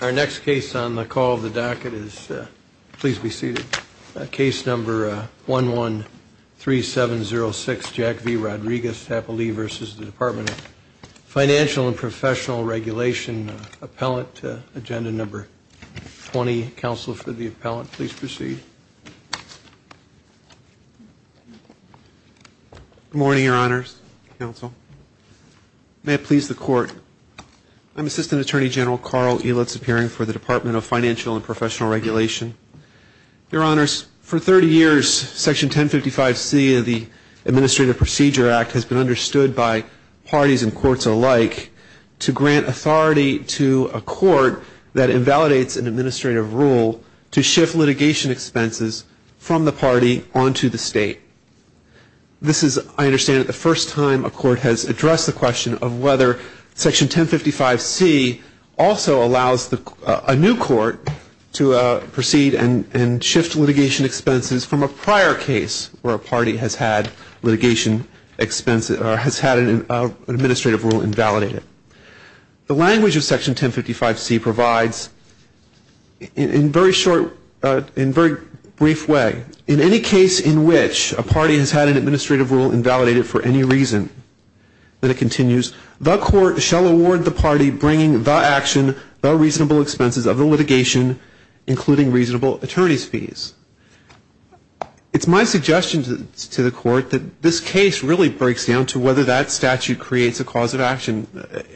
Our next case on the call of the docket is, please be seated, case number 113706, Jack V. Rodriquez, Tappalee v. Department of Financial & Professional Regulation, Appellant, Agenda Number 20. Counsel for the appellant, please proceed. Good morning, your honors, counsel. May it please the court, I'm Assistant Attorney General Carl Elitz, appearing for the Department of Financial & Professional Regulation. Your honors, for 30 years, Section 1055C of the Administrative Procedure Act has been understood by parties and courts alike to grant authority to a court that invalidates an administrative rule to shift litigation expenses from the party onto the state. This is, I understand, the first time a court has addressed the question of whether Section 1055C also allows a new court to proceed and shift litigation expenses from a prior case where a party has had an administrative rule invalidated. The language of Section 1055C provides, in very short, in very brief way, in any case in which a party has had an administrative rule invalidated for any reason, then it continues, the court shall award the party bringing the action, the reasonable expenses of the litigation, including reasonable attorney's fees. It's my suggestion to the court that this case really breaks down to whether that statute creates a cause of action,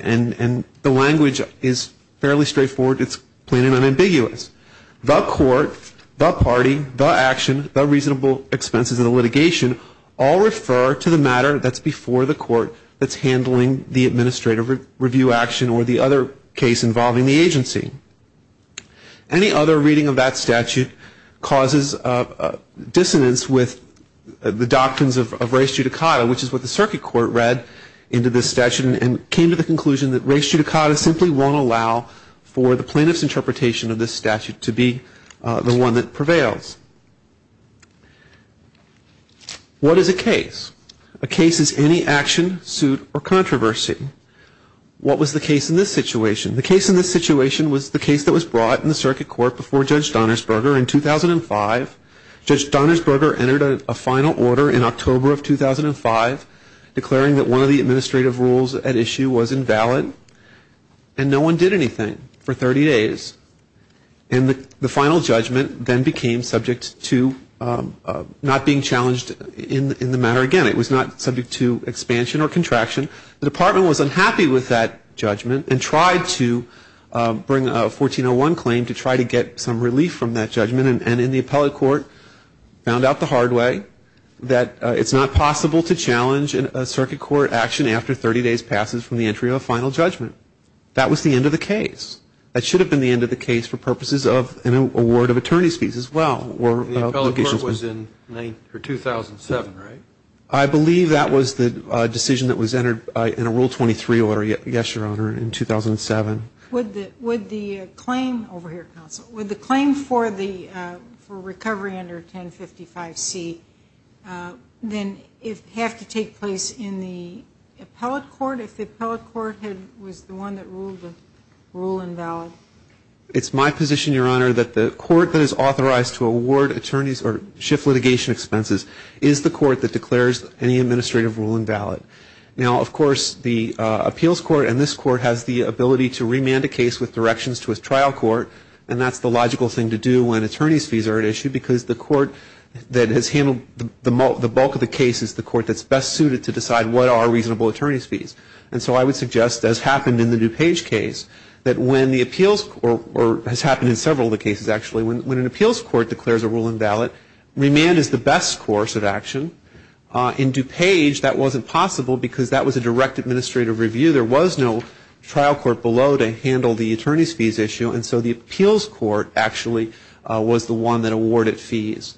and the language is fairly straightforward, it's plain and unambiguous. The court, the party, the action, the reasonable expenses of the litigation all refer to the matter that's before the court that's handling the administrative review action or the other case involving the agency. Any other reading of that statute causes dissonance with the doctrines of res judicata, which is what the circuit court read into this statute and came to the conclusion that res judicata simply won't allow for the plaintiff's interpretation of this statute to be the one that prevails. What is a case? A case is any action, suit, or controversy. What was the case in this situation? The case in this situation was the case that was brought in the circuit court before Judge Donnersberger in 2005. Judge Donnersberger entered a final order in October of 2005 declaring that one of the administrative rules at issue was invalid, and no one did anything for 30 days. And the final judgment then became subject to not being challenged in the matter again. It was not subject to expansion or contraction. The department was unhappy with that judgment and tried to bring a 1401 claim to try to get some relief from that judgment. And in the appellate court found out the hard way that it's not possible to challenge a circuit court action after 30 days passes from the entry of a final judgment. That was the end of the case. That should have been the end of the case for purposes of an award of attorney's fees as well. The appellate court was in 2007, right? I believe that was the decision that was entered in a Rule 23 order, yes, Your Honor, in 2007. Would the claim for recovery under 1055C then have to take place in the appellate court if the appellate court was the one that ruled the rule invalid? It's my position, Your Honor, that the court that is authorized to award attorneys or shift litigation expenses is the court that declares any administrative rule invalid. Now, of course, the appeals court and this court has the ability to remand a case with directions to a trial court, and that's the logical thing to do when attorney's fees are at issue because the court that has handled the bulk of the case is the court that's best suited to decide what are reasonable attorney's fees. And so I would suggest, as happened in the DuPage case, that when the appeals court, or has happened in several of the cases actually, when an appeals court declares a rule invalid, remand is the best course of action. In DuPage, that wasn't possible because that was a direct administrative review. There was no trial court below to handle the attorney's fees issue, and so the appeals court actually was the one that awarded fees.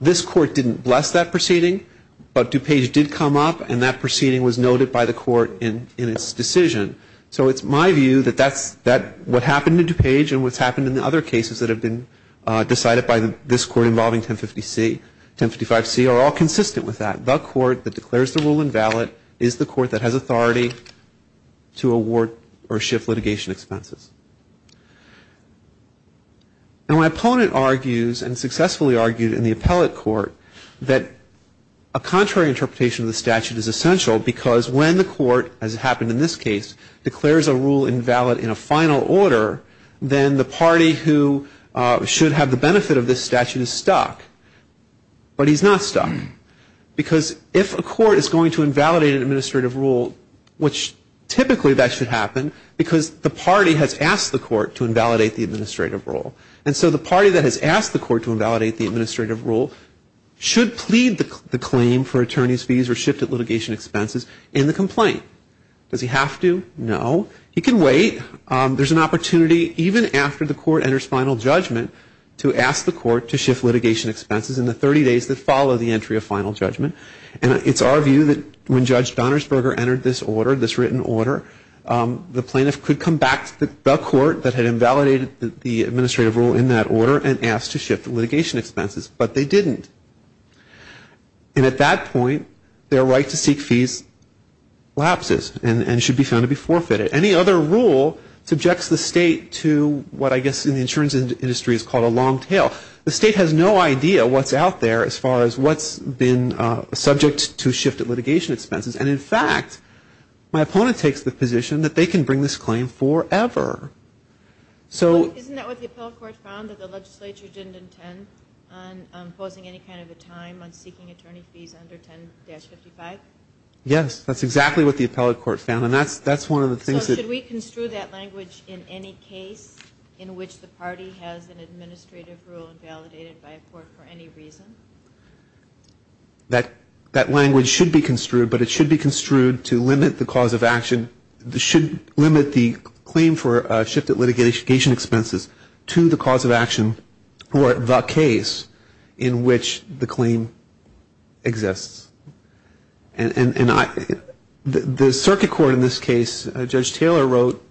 This court didn't bless that proceeding, but DuPage did come up, and that proceeding was noted by the court in its decision. So it's my view that what happened in DuPage and what's happened in the other cases that have been decided by this court involving 1055C are all consistent with that. The court that declares the rule invalid is the court that has authority to award or shift litigation expenses. Now, my opponent argues, and successfully argued in the appellate court, that a contrary interpretation of the statute is essential because when the court, as happened in this case, declares a rule invalid in a final order, then the party who should have the benefit of this statute is stuck. But he's not stuck. Because if a court is going to invalidate an administrative rule, which typically that should happen, because the party has asked the court to invalidate the administrative rule. And so the party that has asked the court to invalidate the administrative rule should plead the claim for attorney's fees or shift of litigation expenses in the complaint. Does he have to? No. He can wait. There's an opportunity even after the court enters final judgment to ask the court to shift litigation expenses in the 30 days that follow the entry of final judgment. And it's our view that when Judge Donnersberger entered this order, this written order, the plaintiff could come back to the court that had invalidated the administrative rule in that order and asked to shift litigation expenses. But they didn't. And at that point, their right to seek fees lapses and should be found to be forfeited. Any other rule subjects the state to what I guess in the insurance industry is called a long tail. The state has no idea what's out there as far as what's been subject to shifted litigation expenses. And, in fact, my opponent takes the position that they can bring this claim forever. Isn't that what the appellate court found, that the legislature didn't intend on imposing any kind of a time on seeking attorney fees under 10-55? Yes, that's exactly what the appellate court found. So should we construe that language in any case in which the party has an administrative rule invalidated by a court for any reason? That language should be construed, but it should be construed to limit the cause of action. It should limit the claim for shifted litigation expenses to the cause of action or the case in which the claim exists. And the circuit court in this case, Judge Taylor wrote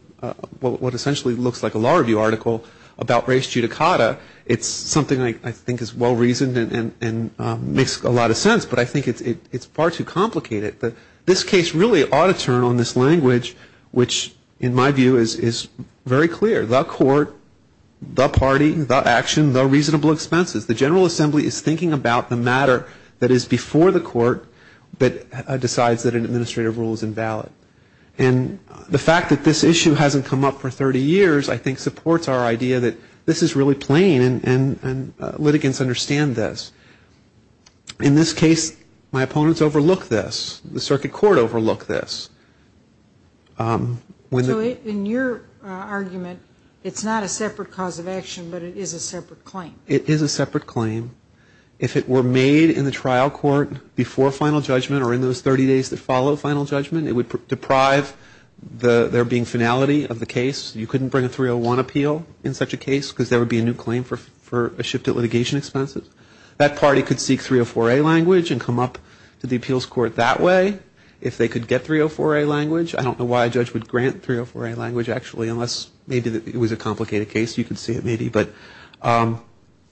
what essentially looks like a law review article about race judicata. It's something I think is well-reasoned and makes a lot of sense, but I think it's far too complicated. This case really ought to turn on this language, which in my view is very clear. The court, the party, the action, the reasonable expenses. The General Assembly is thinking about the matter that is before the court, but decides that an administrative rule is invalid. And the fact that this issue hasn't come up for 30 years I think supports our idea that this is really plain and litigants understand this. In this case, my opponents overlook this. The circuit court overlooked this. So in your argument, it's not a separate cause of action, but it is a separate claim? It is a separate claim. If it were made in the trial court before final judgment or in those 30 days that follow final judgment, it would deprive there being finality of the case. You couldn't bring a 301 appeal in such a case because there would be a new claim for a shifted litigation expense. That party could seek 304A language and come up to the appeals court that way if they could get 304A language. I don't know why a judge would grant 304A language actually unless maybe it was a complicated case. You could say it maybe, but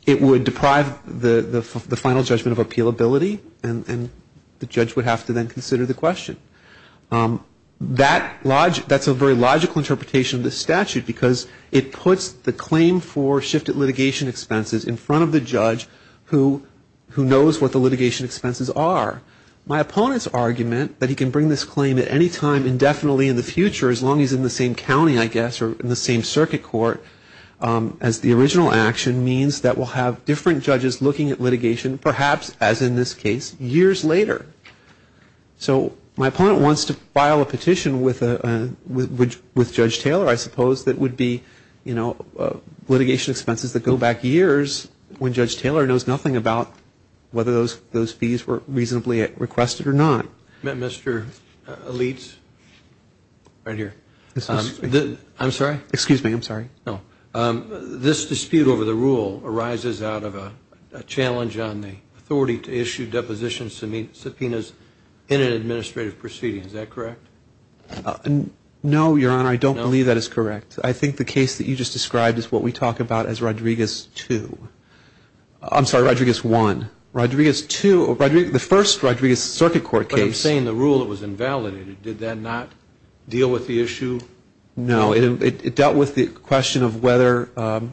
it would deprive the final judgment of appealability and the judge would have to then consider the question. That's a very logical interpretation of the statute because it puts the claim for shifted litigation expenses in front of the judge who knows what the litigation expenses are. My opponent's argument that he can bring this claim at any time indefinitely in the future as long as he's in the same county, I guess, or in the same circuit court as the original action means that we'll have different judges looking at litigation, perhaps, as in this case, years later. So my opponent wants to file a petition with Judge Taylor, I suppose, that would be litigation expenses that go back years when Judge Taylor knows nothing about whether those fees were reasonably requested or not. Mr. Alitz, right here. I'm sorry? Excuse me. I'm sorry. No. This dispute over the rule arises out of a challenge on the authority to issue deposition subpoenas in an administrative proceeding. Is that correct? No, Your Honor. I don't believe that is correct. I think the case that you just described is what we talk about as Rodriguez II. I'm sorry, Rodriguez I. Rodriguez II. The first Rodriguez circuit court case. But I'm saying the rule, it was invalidated. Did that not deal with the issue? No. It dealt with the question of whether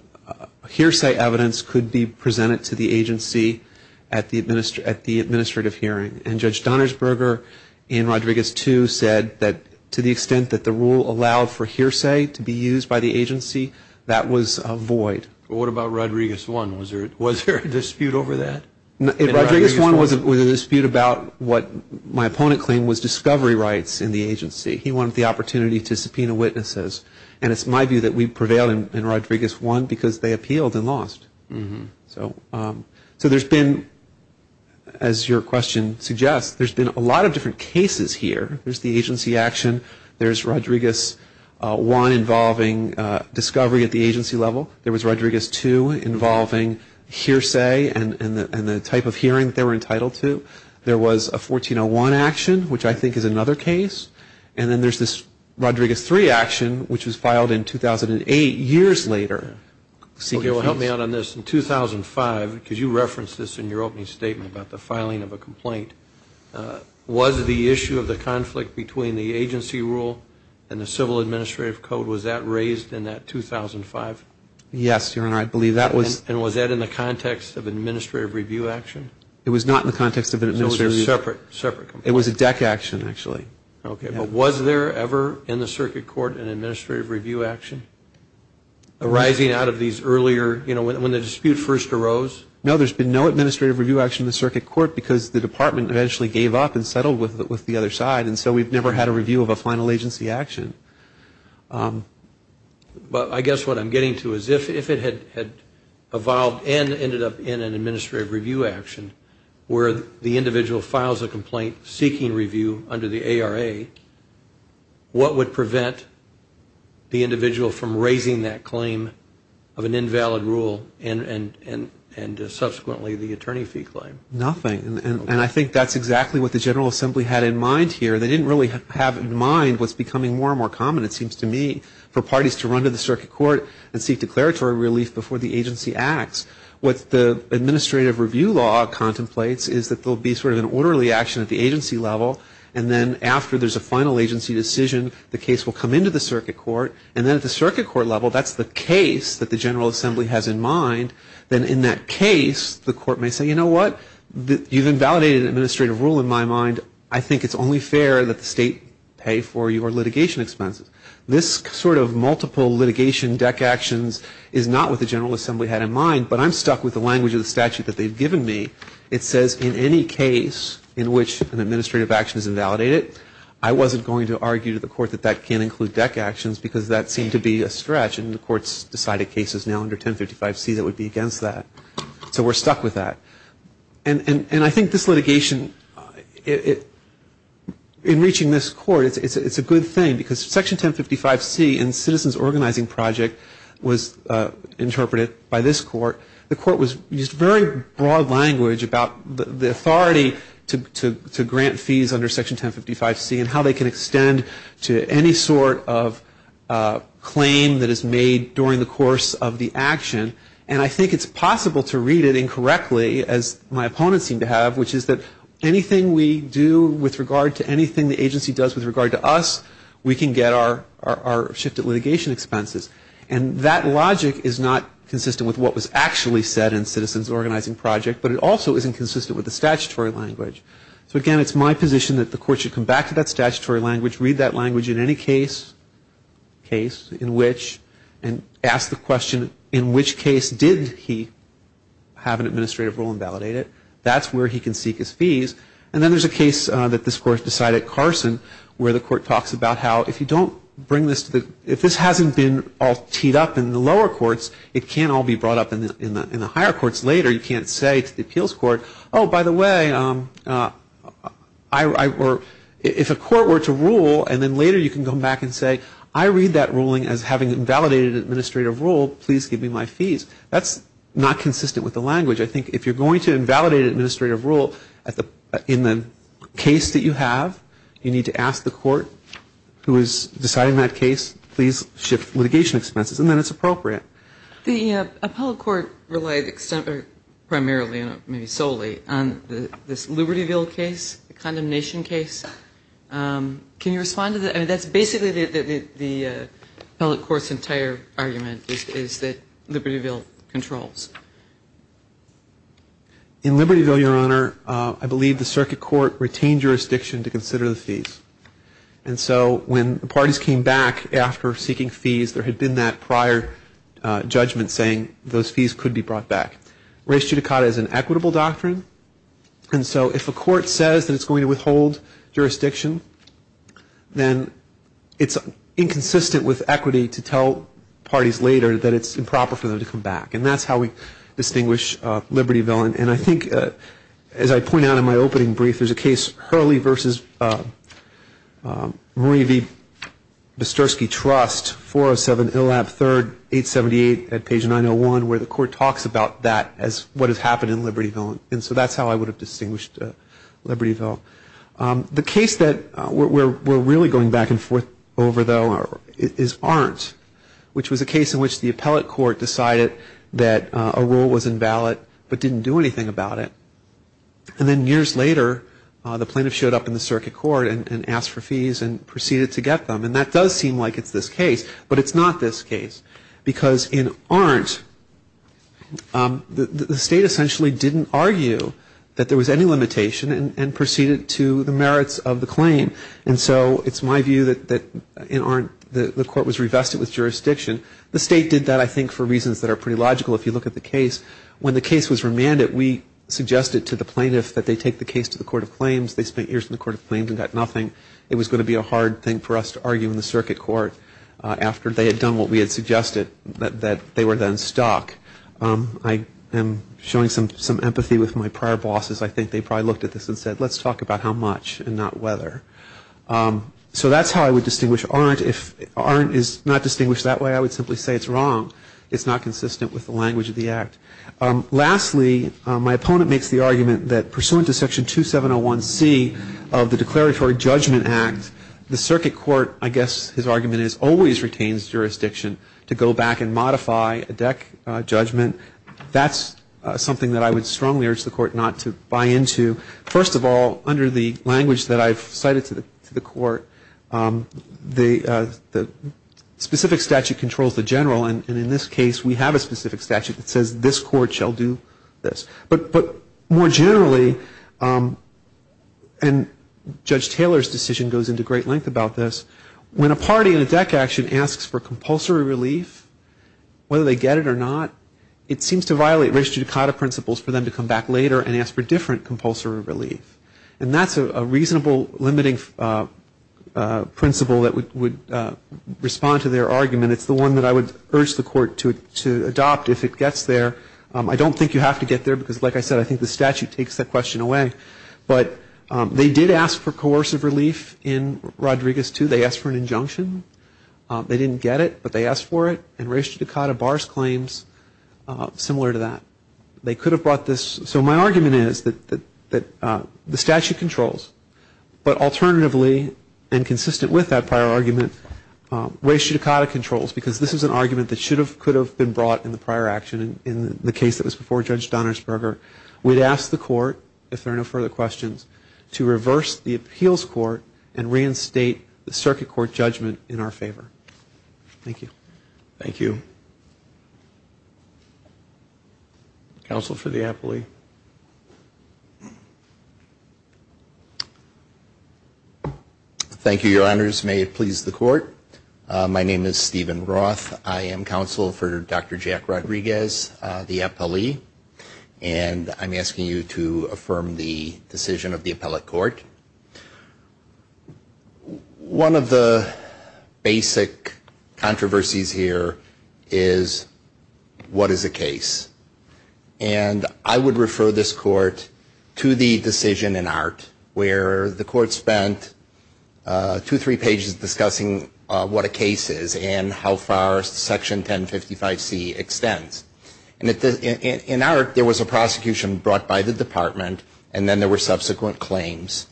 hearsay evidence could be presented to the agency at the administrative hearing. And Judge Donnersberger in Rodriguez II said that to the extent that the rule allowed for hearsay to be used by the agency, that was a void. What about Rodriguez I? Was there a dispute over that? Rodriguez I was a dispute about what my opponent claimed was discovery rights in the agency. He wanted the opportunity to subpoena witnesses. And it's my view that we prevailed in Rodriguez I because they appealed and lost. So there's been, as your question suggests, there's been a lot of different cases here. There's the agency action. There's Rodriguez I involving discovery at the agency level. There was Rodriguez II involving hearsay and the type of hearing they were entitled to. There was a 1401 action, which I think is another case. And then there's this Rodriguez III action, which was filed in 2008, years later. Help me out on this. In 2005, because you referenced this in your opening statement about the filing of a complaint, was the issue of the conflict between the agency rule and the civil administrative code, was that raised in that 2005? Yes, Your Honor. I believe that was. And was that in the context of administrative review action? It was not in the context of an administrative review. So it was a separate complaint. It was a deck action, actually. Okay. But was there ever in the circuit court an administrative review action arising out of these earlier, you know, when the dispute first arose? No, there's been no administrative review action in the circuit court because the department eventually gave up and settled with the other side. And so we've never had a review of a final agency action. But I guess what I'm getting to is if it had evolved and ended up in an administrative review action, where the individual files a complaint seeking review under the ARA, what would prevent the individual from raising that claim of an invalid rule and subsequently the attorney fee claim? Nothing. And I think that's exactly what the General Assembly had in mind here. They didn't really have in mind what's becoming more and more common, it seems to me, for parties to run to the circuit court and seek declaratory relief before the agency acts. What the administrative review law contemplates is that there will be sort of an orderly action at the agency level, and then after there's a final agency decision, the case will come into the circuit court. And then at the circuit court level, that's the case that the General Assembly has in mind. Then in that case, the court may say, you know what? You've invalidated an administrative rule in my mind. I think it's only fair that the state pay for your litigation expenses. This sort of multiple litigation deck actions is not what the General Assembly had in mind, but I'm stuck with the language of the statute that they've given me. It says in any case in which an administrative action is invalidated, I wasn't going to argue to the court that that can't include deck actions because that seemed to be a stretch, and the court's decided cases now under 1055C that would be against that. So we're stuck with that. And I think this litigation, in reaching this court, it's a good thing, because Section 1055C in Citizens Organizing Project was interpreted by this court. The court used very broad language about the authority to grant fees under Section 1055C and how they can extend to any sort of claim that is made during the course of the action. And I think it's possible to read it incorrectly, as my opponents seem to have, which is that anything we do with regard to anything the agency does with regard to us, we can get our shifted litigation expenses. And that logic is not consistent with what was actually said in Citizens Organizing Project, but it also isn't consistent with the statutory language. So again, it's my position that the court should come back to that statutory language, read that language in any case, in which, and ask the question, in which case did he have an administrative role invalidated? That's where he can seek his fees. And then there's a case that this court decided, Carson, where the court talks about how, if you don't bring this to the, if this hasn't been all teed up in the lower courts, it can't all be brought up in the higher courts later. You can't say to the appeals court, oh, by the way, if a court were to rule, and then later you can come back and say, I read that ruling as having invalidated an administrative role, please give me my fees. That's not consistent with the language. I think if you're going to invalidate an administrative rule in the case that you have, you need to ask the court who is deciding that case, please shift litigation expenses, and then it's appropriate. The appellate court relied primarily, maybe solely, on this Libertyville case, the condemnation case. Can you respond to that? I mean, that's basically the appellate court's entire argument is that Libertyville controls. In Libertyville, Your Honor, I believe the circuit court retained jurisdiction to consider the fees. And so when the parties came back after seeking fees, there had been that prior judgment saying those fees could be brought back. Race judicata is an equitable doctrine. And so if a court says that it's going to withhold jurisdiction, then it's inconsistent with equity to tell parties later that it's improper for them to come back. And that's how we distinguish Libertyville. And I think, as I pointed out in my opening brief, there's a case, Hurley v. Marie V. Bisturski Trust, 407 Illab 3rd, 878 at page 901, where the court talks about that as what has happened in Libertyville. And so that's how I would have distinguished Libertyville. The case that we're really going back and forth over, though, is Arndt, which was a case in which the appellate court decided that a rule was invalid but didn't do anything about it. And then years later, the plaintiff showed up in the circuit court and asked for fees and proceeded to get them. And that does seem like it's this case. But it's not this case because in Arndt, the state essentially didn't argue that there was any limitation and proceeded to the merits of the claim. And so it's my view that in Arndt, the court was revested with jurisdiction. The state did that, I think, for reasons that are pretty logical if you look at the case. When the case was remanded, we suggested to the plaintiff that they take the case to the court of claims. They spent years in the court of claims and got nothing. It was going to be a hard thing for us to argue in the circuit court after they had done what we had suggested, that they were then stuck. I am showing some empathy with my prior bosses. I think they probably looked at this and said, let's talk about how much and not whether. So that's how I would distinguish Arndt. If Arndt is not distinguished that way, I would simply say it's wrong. It's not consistent with the language of the act. Lastly, my opponent makes the argument that pursuant to Section 2701C of the Declaratory Judgment Act, the circuit court, I guess his argument is, always retains jurisdiction to go back and modify a DEC judgment. That's something that I would strongly urge the court not to buy into. First of all, under the language that I've cited to the court, the specific statute controls the general, and in this case we have a specific statute that says this court shall do this. But more generally, and Judge Taylor's decision goes into great length about this, when a party in a DEC action asks for compulsory relief, whether they get it or not, it seems to violate registered DECADA principles for them to come back later and ask for different compulsory relief. And that's a reasonable limiting principle that would respond to their argument. It's the one that I would urge the court to adopt if it gets there. I don't think you have to get there because, like I said, I think the statute takes that question away. But they did ask for coercive relief in Rodriguez II. They asked for an injunction. They didn't get it, but they asked for it. And registered DECADA bars claims similar to that. They could have brought this. So my argument is that the statute controls, but alternatively and consistent with that prior argument, registered DECADA controls because this is an argument that should have, could have been brought in the prior action in the case that was before Judge Donnersberger. We'd ask the court, if there are no further questions, to reverse the appeals court and reinstate the circuit court judgment in our favor. Thank you. Thank you. Counsel for the appellee. Thank you, Your Honors. May it please the court. My name is Stephen Roth. I am counsel for Dr. Jack Rodriguez, the appellee. And I'm asking you to affirm the decision of the appellate court. One of the basic controversies here is what is a case? And I would refer this court to the decision in Art, where the court spent two, three pages discussing what a case is and how far Section 1055C extends. And in Art, there was a prosecution brought by the department, and then there were subsequent claims.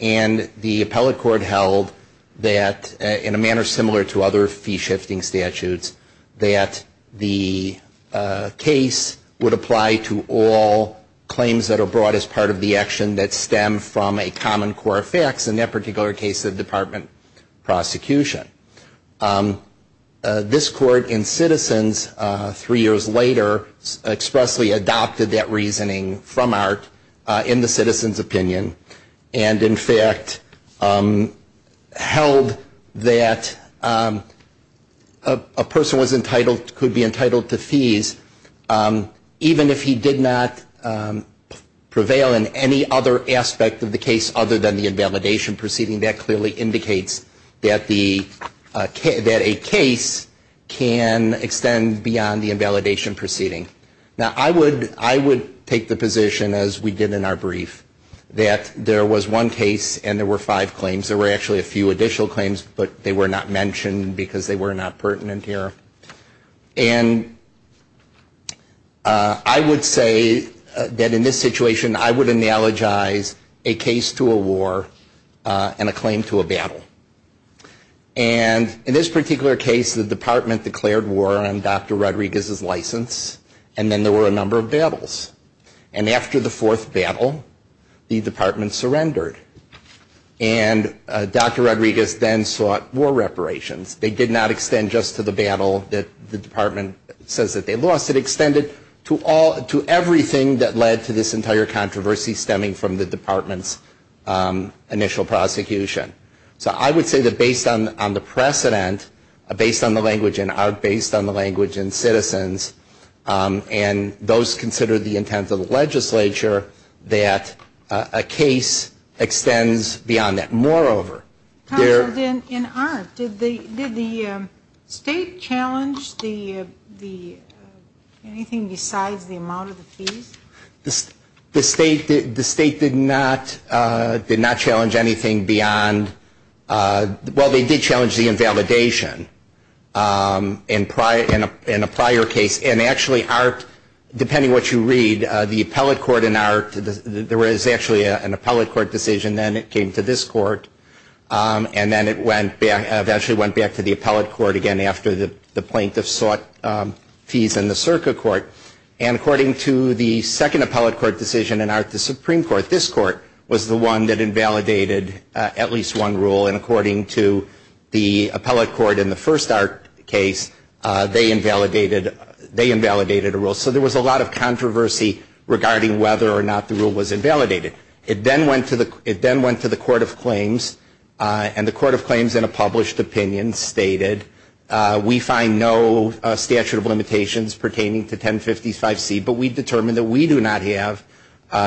And the appellate court held that, in a manner similar to other fee-shifting statutes, that the case would apply to all claims that are brought as part of the action that stem from a common core of facts, in that particular case, the department prosecution. This court in Citizens, three years later, expressly adopted that reasoning from Art in the Citizens' opinion and, in fact, held that a person could be entitled to fees even if he did not prevail in any other aspect of the case other than the invalidation proceeding. That clearly indicates that a case can extend beyond the invalidation proceeding. Now, I would take the position, as we did in our brief, that there was one case and there were five claims. There were actually a few additional claims, but they were not mentioned because they were not pertinent here. And I would say that, in this situation, I would analogize a case to a war and a claim to a battle. And, in this particular case, the department declared war on Dr. Rodriguez's license, and then there were a number of battles. And after the fourth battle, the department surrendered. And Dr. Rodriguez then sought war reparations. They did not extend just to the battle that the department says that they lost. It extended to everything that led to this entire controversy stemming from the department's initial prosecution. So I would say that, based on the precedent, based on the language in Art, based on the language in Citizens, and those considered the intent of the legislature, that a case extends beyond that. In Art, did the State challenge anything besides the amount of the fees? The State did not challenge anything beyond, well, they did challenge the invalidation in a prior case. And, actually, Art, depending on what you read, the appellate court in Art, there was actually an appellate court decision, then it came to this court, and then it eventually went back to the appellate court again after the plaintiff sought fees in the Circa court. And, according to the second appellate court decision in Art, the Supreme Court, this court, was the one that invalidated at least one rule. And, according to the appellate court in the first Art case, they invalidated a rule. So there was a lot of controversy regarding whether or not the rule was invalidated. It then went to the Court of Claims, and the Court of Claims, in a published opinion, stated, we find no statute of limitations pertaining to 1055C, but we determine that we do not have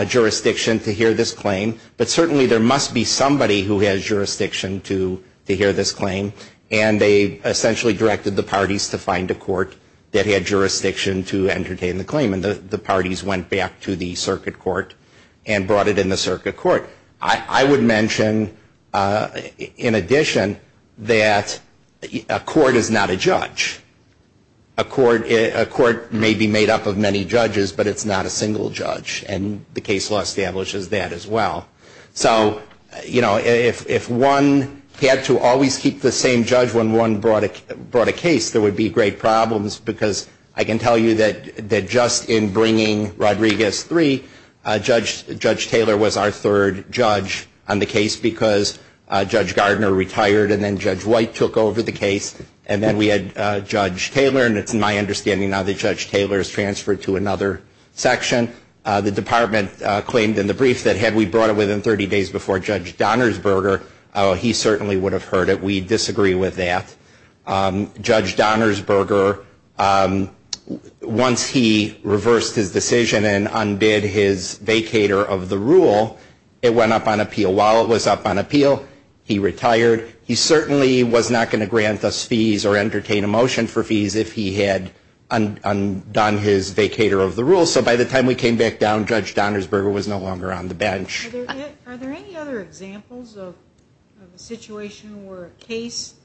jurisdiction to hear this claim. But, certainly, there must be somebody who has jurisdiction to hear this claim. And they essentially directed the parties to find a court that had jurisdiction to entertain the claim. And the parties went back to the circuit court and brought it in the circuit court. I would mention, in addition, that a court is not a judge. A court may be made up of many judges, but it's not a single judge. And the case law establishes that as well. So, you know, if one had to always keep the same judge when one brought a case, there would be great problems, because I can tell you that just in bringing Rodriguez 3, Judge Taylor was our third judge on the case, because Judge Gardner retired, and then Judge White took over the case. And then we had Judge Taylor, and it's my understanding now that Judge Taylor is transferred to another section. The department claimed in the brief that had we brought it within 30 days before Judge Donnersberger, he certainly would have heard it. We disagree with that. Judge Donnersberger, once he reversed his decision and undid his vacator of the rule, it went up on appeal. While it was up on appeal, he retired. He certainly was not going to grant us fees or entertain a motion for fees if he had undone his vacator of the rule. So by the time we came back down, Judge Donnersberger was no longer on the bench. Are there any other examples of a situation where a case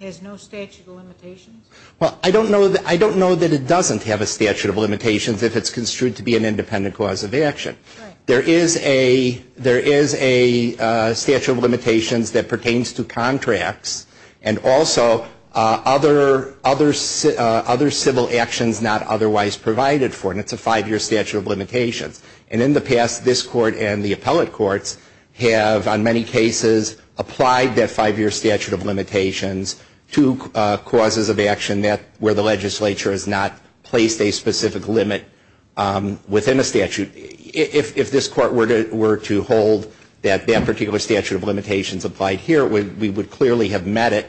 has no statute of limitations? Well, I don't know that it doesn't have a statute of limitations if it's construed to be an independent cause of action. There is a statute of limitations that pertains to contracts and also other civil actions not otherwise provided for. And it's a five-year statute of limitations. And in the past, this Court and the appellate courts have on many cases applied that five-year statute of limitations to causes of action where the legislature has not placed a specific limit within a statute. If this Court were to hold that that particular statute of limitations applied here, we would clearly have met it.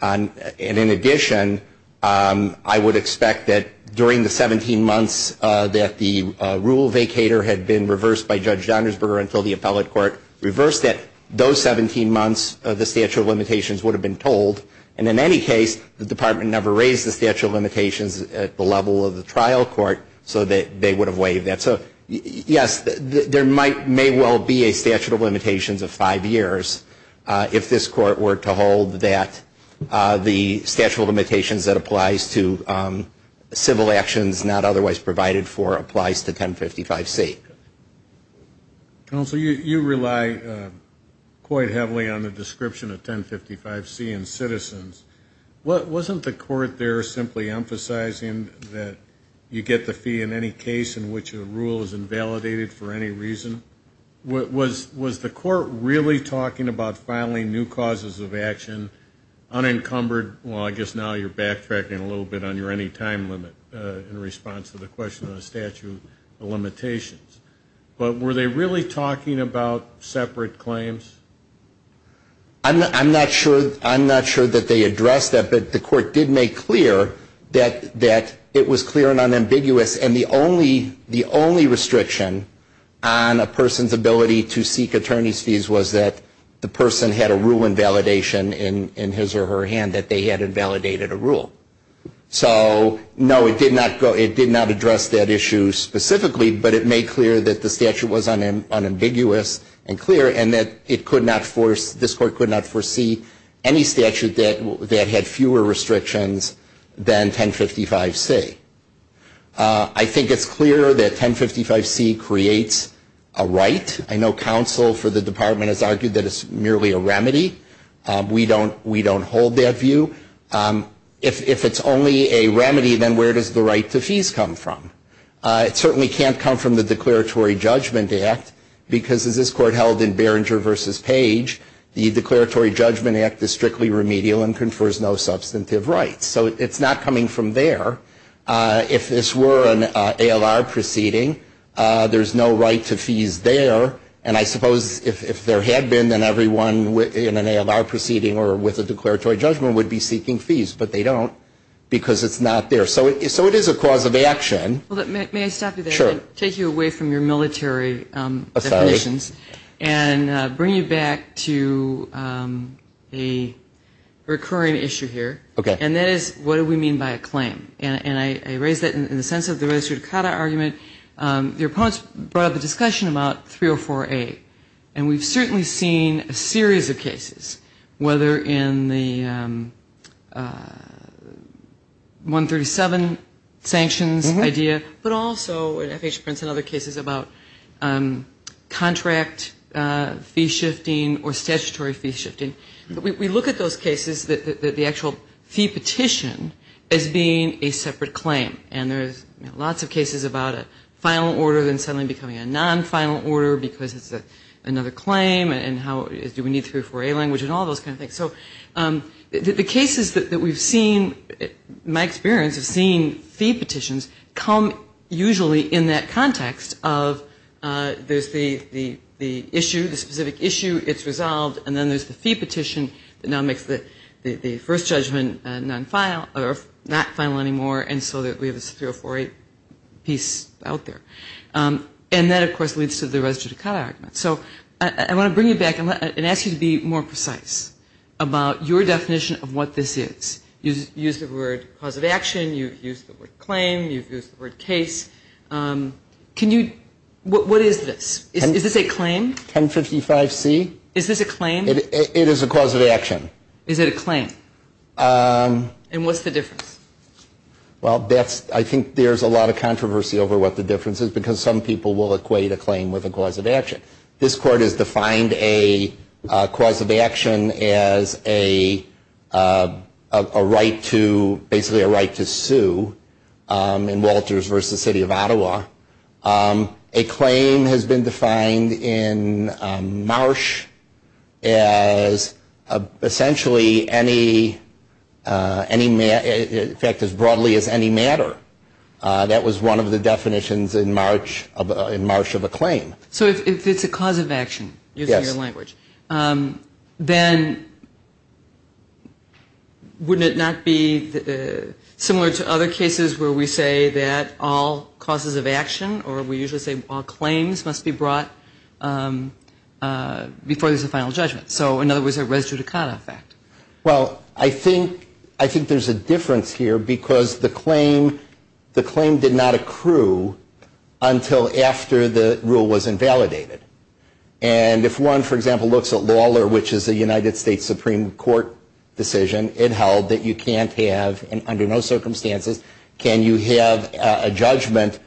And in addition, I would expect that during the 17 months that the rule vacator had been reversed by Judge Donnersberger until the appellate court reversed it, those 17 months, the statute of limitations would have been told. And in any case, the Department never raised the statute of limitations at the level of the trial court so that they would have waived that. So, yes, there may well be a statute of limitations of five years if this Court were to hold that the statute of limitations that applies to civil actions not otherwise provided for applies to 1055C. Counsel, you rely quite heavily on the description of 1055C in Citizens. Wasn't the Court there simply emphasizing that you get the fee in any case in which a rule is invalidated for any reason? Was the Court really talking about filing new causes of action unencumbered? Well, I guess now you're backtracking a little bit on your any time limit in response to the question of the statute of limitations. But were they really talking about separate claims? I'm not sure that they addressed that. But the Court did make clear that it was clear and unambiguous. And the only restriction on a person's ability to seek attorney's fees was that the person had a rule invalidation in his or her hand that they had invalidated a rule. So, no, it did not address that issue specifically, but it made clear that the statute was unambiguous and clear and that this Court could not foresee any statute that had fewer restrictions than 1055C. I think it's clear that 1055C creates a right. I know counsel for the Department has argued that it's merely a remedy. We don't hold that view. If it's only a remedy, then where does the right to fees come from? It certainly can't come from the Declaratory Judgment Act because, as this Court held in Barringer v. Page, the Declaratory Judgment Act is strictly remedial and confers no substantive rights. So it's not coming from there. If this were an ALR proceeding, there's no right to fees there. And I suppose if there had been, then everyone in an ALR proceeding or with a declaratory judgment would be seeking fees. But they don't because it's not there. So it is a cause of action. May I stop you there? Sure. Take you away from your military definitions and bring you back to a recurring issue here. Okay. And that is what do we mean by a claim? And I raise that in the sense of the res judicata argument. Your opponents brought up a discussion about 304A, and we've certainly seen a series of cases, whether in the 137 sanctions idea, but also in other cases about contract fee shifting or statutory fee shifting. We look at those cases, the actual fee petition, as being a separate claim. And there's lots of cases about a final order then suddenly becoming a non-final order because it's another claim and do we need 304A language and all those kind of things. So the cases that we've seen, my experience of seeing fee petitions, come usually in that context of there's the issue, the specific issue, it's resolved, and then there's the fee petition that now makes the first judgment not final anymore and so we have this 304A piece out there. And that, of course, leads to the res judicata argument. So I want to bring you back and ask you to be more precise about your definition of what this is. You've used the word cause of action. You've used the word claim. You've used the word case. What is this? Is this a claim? 1055C. Is this a claim? It is a cause of action. Is it a claim? And what's the difference? Well, I think there's a lot of controversy over what the difference is because some people will equate a claim with a cause of action. This court has defined a cause of action as basically a right to sue in Walters v. City of Ottawa. A claim has been defined in Marsh as essentially any matter, in fact, as broadly as any matter. That was one of the definitions in Marsh of a claim. So if it's a cause of action, using your language, then wouldn't it not be similar to other cases where we say that all causes of action or we usually say all claims must be brought before there's a final judgment? So in other words, a res judicata effect. Well, I think there's a difference here because the claim did not accrue until after the rule was invalidated. And if one, for example, looks at Lawler, which is a United States Supreme Court decision, it held that you can't have, under no circumstances, can you have a judgment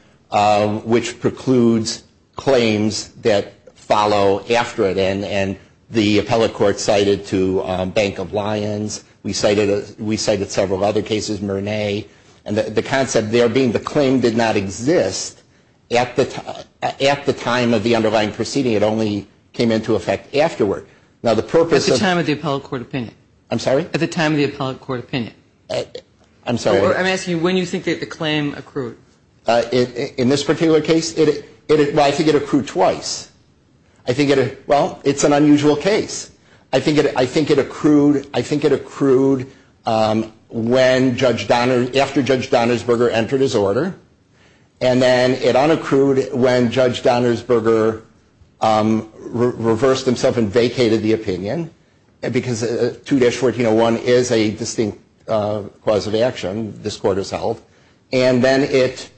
which precludes claims that follow after it. And the appellate court cited to Bank of Lions. We cited several other cases, Murnay. And the concept there being the claim did not exist at the time of the underlying proceeding. It only came into effect afterward. At the time of the appellate court opinion. I'm sorry? At the time of the appellate court opinion. I'm sorry. I'm asking you when you think that the claim accrued. In this particular case, well, I think it accrued twice. I think it, well, it's an unusual case. I think it, I think it accrued, I think it accrued when Judge Donner, after Judge Donnersberger entered his order. And then it unaccrued when Judge Donnersberger reversed himself and vacated the opinion. Because 2-1401 is a distinct cause of action. This court has held. And then it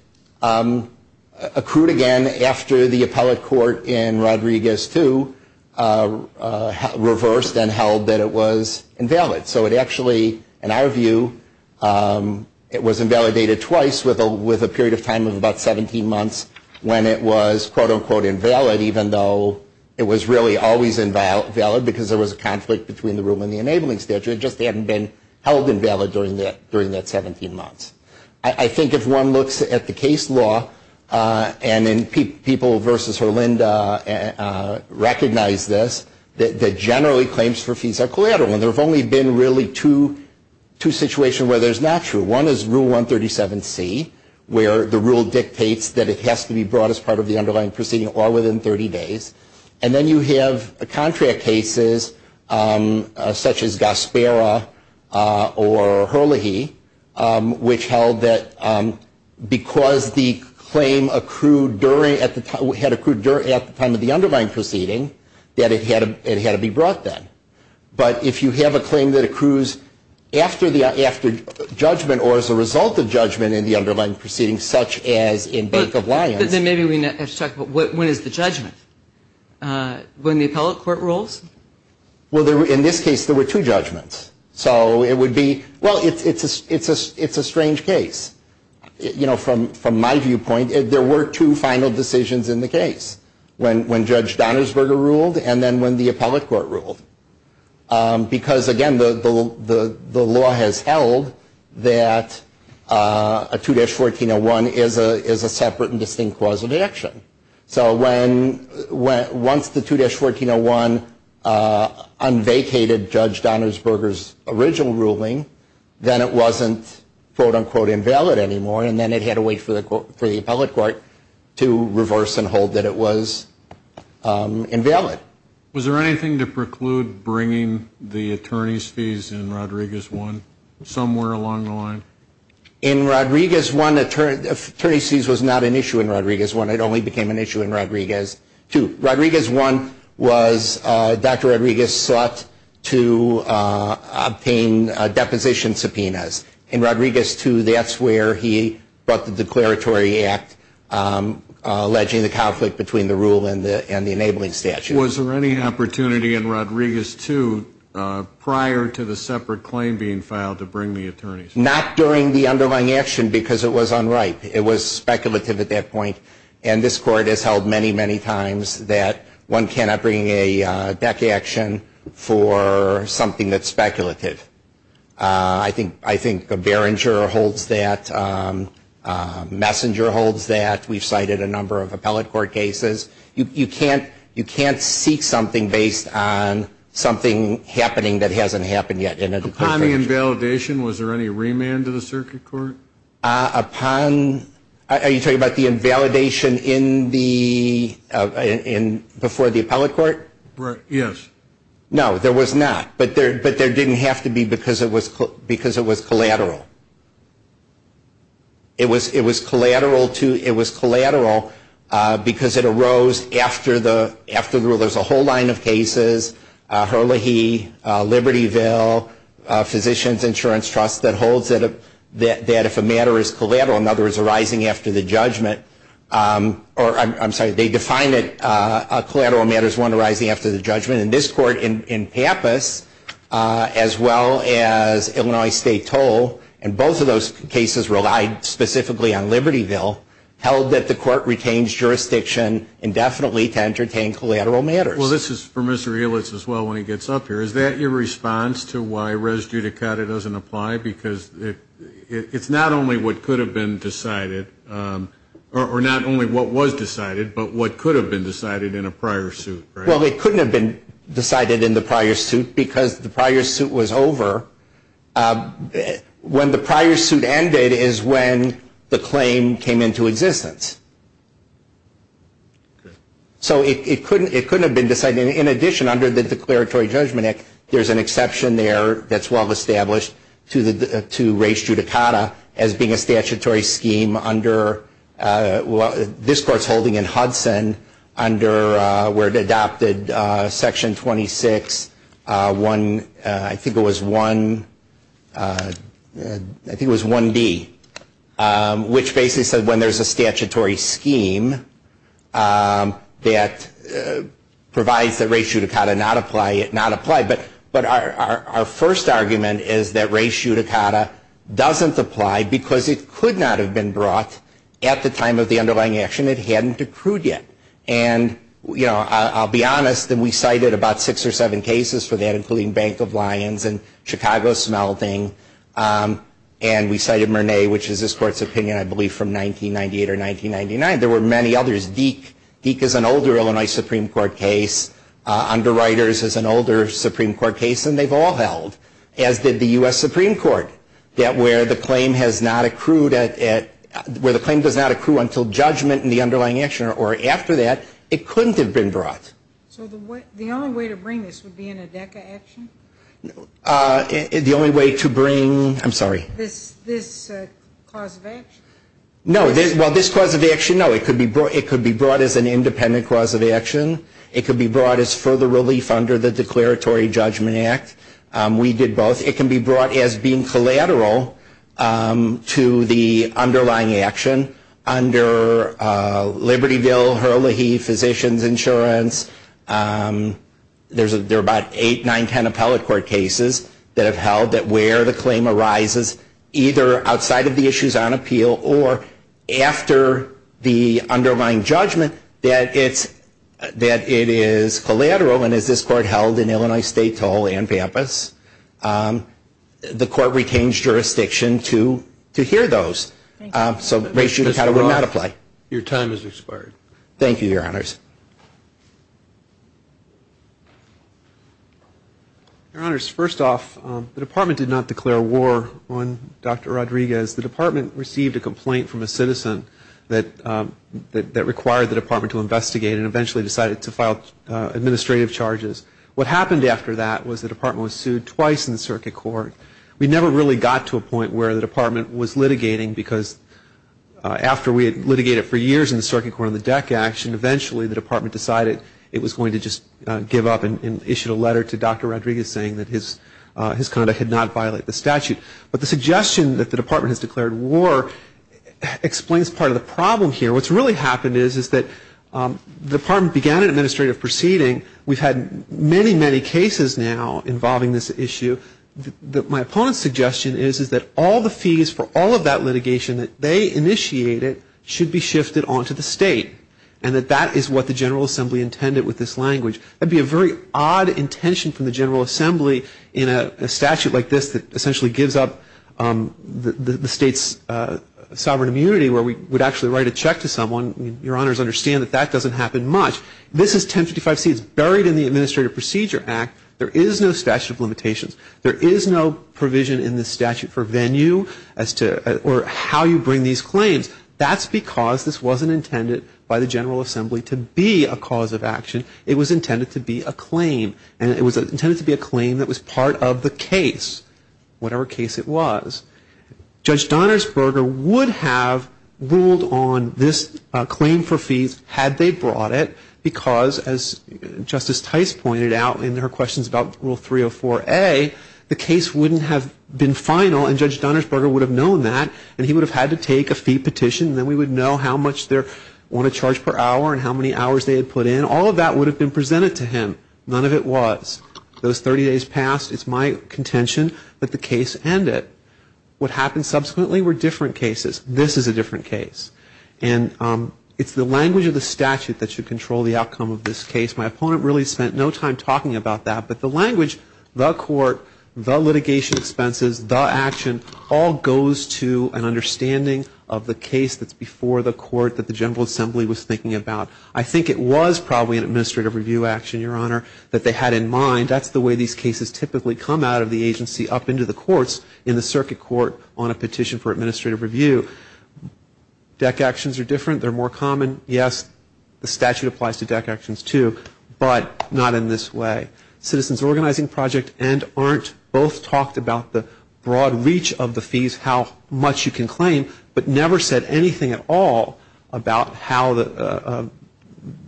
accrued again after the appellate court in Rodriguez II reversed and held that it was invalid. So it actually, in our view, it was invalidated twice with a period of time of about 17 months when it was quote unquote invalid. Even though it was really always invalid because there was a conflict between the rule and the enabling statute. It just hadn't been held invalid during that 17 months. I think if one looks at the case law, and people versus Herlinda recognize this, that generally claims for fees are collateral. And there have only been really two situations where there's not true. One is Rule 137C where the rule dictates that it has to be brought as part of the underlying proceeding or within 30 days. And then you have contract cases such as Gaspera or Herlihy, which held that because the claim accrued during, had accrued at the time of the underlying proceeding, that it had to be brought then. But if you have a claim that accrues after judgment or as a result of judgment in the underlying proceeding, such as in Bank of Lyons. Then maybe we have to talk about when is the judgment? When the appellate court rules? Well, in this case, there were two judgments. So it would be, well, it's a strange case. You know, from my viewpoint, there were two final decisions in the case, when Judge Donnersberger ruled and then when the appellate court ruled. Because, again, the law has held that a 2-1401 is a separate and distinct clause of deduction. So once the 2-1401 unvacated Judge Donnersberger's original ruling, then it wasn't quote, unquote, invalid anymore. And then it had to wait for the appellate court to reverse and hold that it was invalid. Was there anything to preclude bringing the attorney's fees in Rodriguez I somewhere along the line? In Rodriguez I, attorney's fees was not an issue in Rodriguez I. It only became an issue in Rodriguez II. Rodriguez I was Dr. Rodriguez sought to obtain deposition subpoenas. In Rodriguez II, that's where he brought the declaratory act alleging the conflict between the rule and the enabling statute. Was there any opportunity in Rodriguez II prior to the separate claim being filed to bring the attorneys? Not during the underlying action, because it was unright. It was speculative at that point. And this Court has held many, many times that one cannot bring a deck action for something that's speculative. I think Behringer holds that. Messenger holds that. We've cited a number of appellate court cases. You can't seek something based on something happening that hasn't happened yet. Upon the invalidation, was there any remand to the circuit court? Are you talking about the invalidation before the appellate court? Yes. No, there was not. But there didn't have to be, because it was collateral. It was collateral because it arose after the rule. There's a whole line of cases, Herlihy, Libertyville, Physicians Insurance Trust, that holds that if a matter is collateral, in other words, arising after the judgment, or I'm sorry, they define it, a collateral matter is one arising after the judgment. And this Court in Pappas, as well as Illinois State Toll, and both of those cases relied specifically on Libertyville, held that the Court retains jurisdiction indefinitely to entertain collateral matters. Well, this is for Mr. Helitz as well when he gets up here. Is that your response to why res judicata doesn't apply? Because it's not only what could have been decided, or not only what was decided, but what could have been decided in a prior suit, right? Well, it couldn't have been decided in the prior suit because the prior suit was over. When the prior suit ended is when the claim came into existence. So it couldn't have been decided. In addition, under the Declaratory Judgment Act, there's an exception there that's well established to res judicata as being a statutory scheme under this Court's holding in Hudson, under where it adopted Section 26, I think it was 1D, which basically said when there's a statutory scheme that provides that res judicata not apply, it not apply. But our first argument is that res judicata doesn't apply because it could not have been brought at the time of the underlying action. It hadn't accrued yet. And, you know, I'll be honest, we cited about six or seven cases for that, including Bank of Lyons and Chicago smelting. And we cited Murnay, which is this Court's opinion, I believe, from 1998 or 1999. There were many others. Deke is an older Illinois Supreme Court case. Underwriters is an older Supreme Court case. And they've all held, as did the U.S. Supreme Court, that where the claim has not accrued at ñ where the claim does not accrue until judgment in the underlying action or after that, it couldn't have been brought. So the only way to bring this would be in a Deke action? The only way to bring ñ I'm sorry. This clause of action? No. Well, this clause of action, no. It could be brought as an independent clause of action. It could be brought as further relief under the Declaratory Judgment Act. We did both. It can be brought as being collateral to the underlying action under Libertyville, Hurley, Physicians Insurance. There are about eight, nine, ten appellate court cases that have held that where the claim arises, either outside of the issues on appeal or after the underlying judgment, that it's ñ that it is collateral. And as this Court held in Illinois State, Toll, and Pampas, the Court retains jurisdiction to hear those. So the ratio would not apply. Your time has expired. Thank you, Your Honors. Your Honors, first off, the Department did not declare war on Dr. Rodriguez. The Department received a complaint from a citizen that required the Department to investigate and eventually decided to file administrative charges. What happened after that was the Department was sued twice in the Circuit Court. We never really got to a point where the Department was litigating because after we had litigated for years in the Circuit Court on the deck action, eventually the Department decided it was going to just give up and issued a letter to Dr. Rodriguez saying that his conduct had not violated the statute. But the suggestion that the Department has declared war explains part of the problem here. What's really happened is that the Department began an administrative proceeding. We've had many, many cases now involving this issue. My opponent's suggestion is that all the fees for all of that litigation that they initiated should be shifted onto the state and that that is what the General Assembly intended with this language. That would be a very odd intention from the General Assembly in a statute like this that essentially gives up the state's sovereign immunity where we would actually write a check to someone. Your Honors understand that that doesn't happen much. This is 1055C. It's buried in the Administrative Procedure Act. There is no statute of limitations. There is no provision in the statute for venue or how you bring these claims. That's because this wasn't intended by the General Assembly to be a cause of action. It was intended to be a claim. And it was intended to be a claim that was part of the case, whatever case it was. Judge Donnersberger would have ruled on this claim for fees had they brought it because as Justice Tice pointed out in her questions about Rule 304A, the case wouldn't have been final and Judge Donnersberger would have known that and he would have had to take a fee petition and then we would know how much they want to charge per hour and how many hours they had put in. All of that would have been presented to him. None of it was. Those 30 days passed. It's my contention that the case end it. What happened subsequently were different cases. This is a different case. And it's the language of the statute that should control the outcome of this case. My opponent really spent no time talking about that. But the language, the court, the litigation expenses, the action, all goes to an understanding of the case that's before the court that the General Assembly was thinking about. I think it was probably an administrative review action, Your Honor, that they had in mind. That's the way these cases typically come out of the agency up into the courts in the circuit court on a petition for administrative review. DEC actions are different. They're more common. Yes, the statute applies to DEC actions too, but not in this way. Citizens Organizing Project and ARNT both talked about the broad reach of the fees, how much you can claim, but never said anything at all about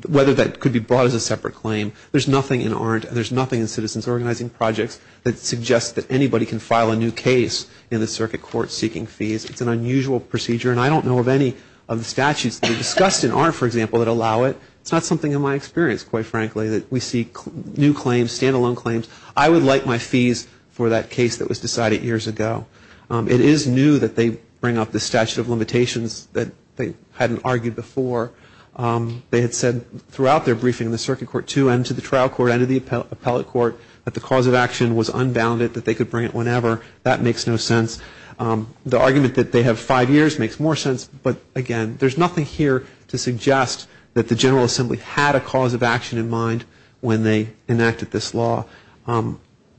whether that could be brought as a separate claim. There's nothing in ARNT and there's nothing in Citizens Organizing Projects that suggests that anybody can file a new case in the circuit court seeking fees. It's an unusual procedure, and I don't know of any of the statutes that are discussed in ARNT, for example, that allow it. It's not something in my experience, quite frankly, that we see new claims, stand-alone claims. I would like my fees for that case that was decided years ago. It is new that they bring up the statute of limitations that they hadn't argued before. They had said throughout their briefing in the circuit court too and to the trial court and to the appellate court that the cause of action was unbounded, that they could bring it whenever. That makes no sense. The argument that they have five years makes more sense, but again, there's nothing here to suggest that the General Assembly had a cause of action in mind when they enacted this law.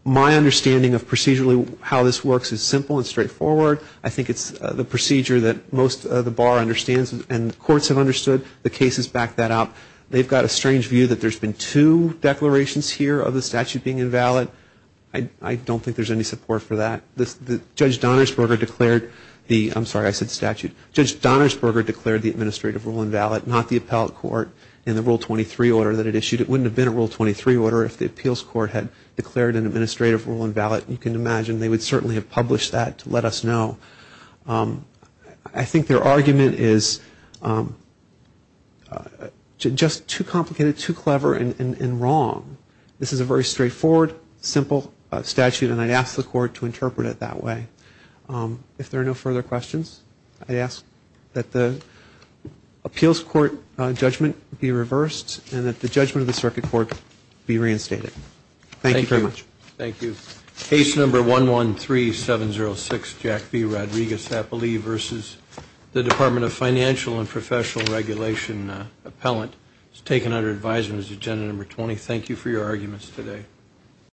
My understanding of procedurally how this works is simple and straightforward. I think it's the procedure that most of the bar understands and the courts have understood the cases back that up. They've got a strange view that there's been two declarations here of the statute being invalid. I don't think there's any support for that. Judge Donnersberger declared the, I'm sorry, I said statute. Judge Donnersberger declared the administrative rule invalid, not the appellate court in the Rule 23 order that it issued. It wouldn't have been a Rule 23 order if the appeals court had declared an administrative rule invalid. You can imagine they would certainly have published that to let us know. I think their argument is just too complicated, too clever and wrong. This is a very straightforward, simple statute, and I'd ask the court to interpret it that way. If there are no further questions, I ask that the appeals court judgment be reversed and that the judgment of the circuit court be reinstated. Thank you very much. Thank you. Case number 113706, Jack B. Rodriguez, I believe, versus the Department of Financial and Professional Regulation appellant. It's taken under advisement as agenda number 20. Thank you for your arguments today.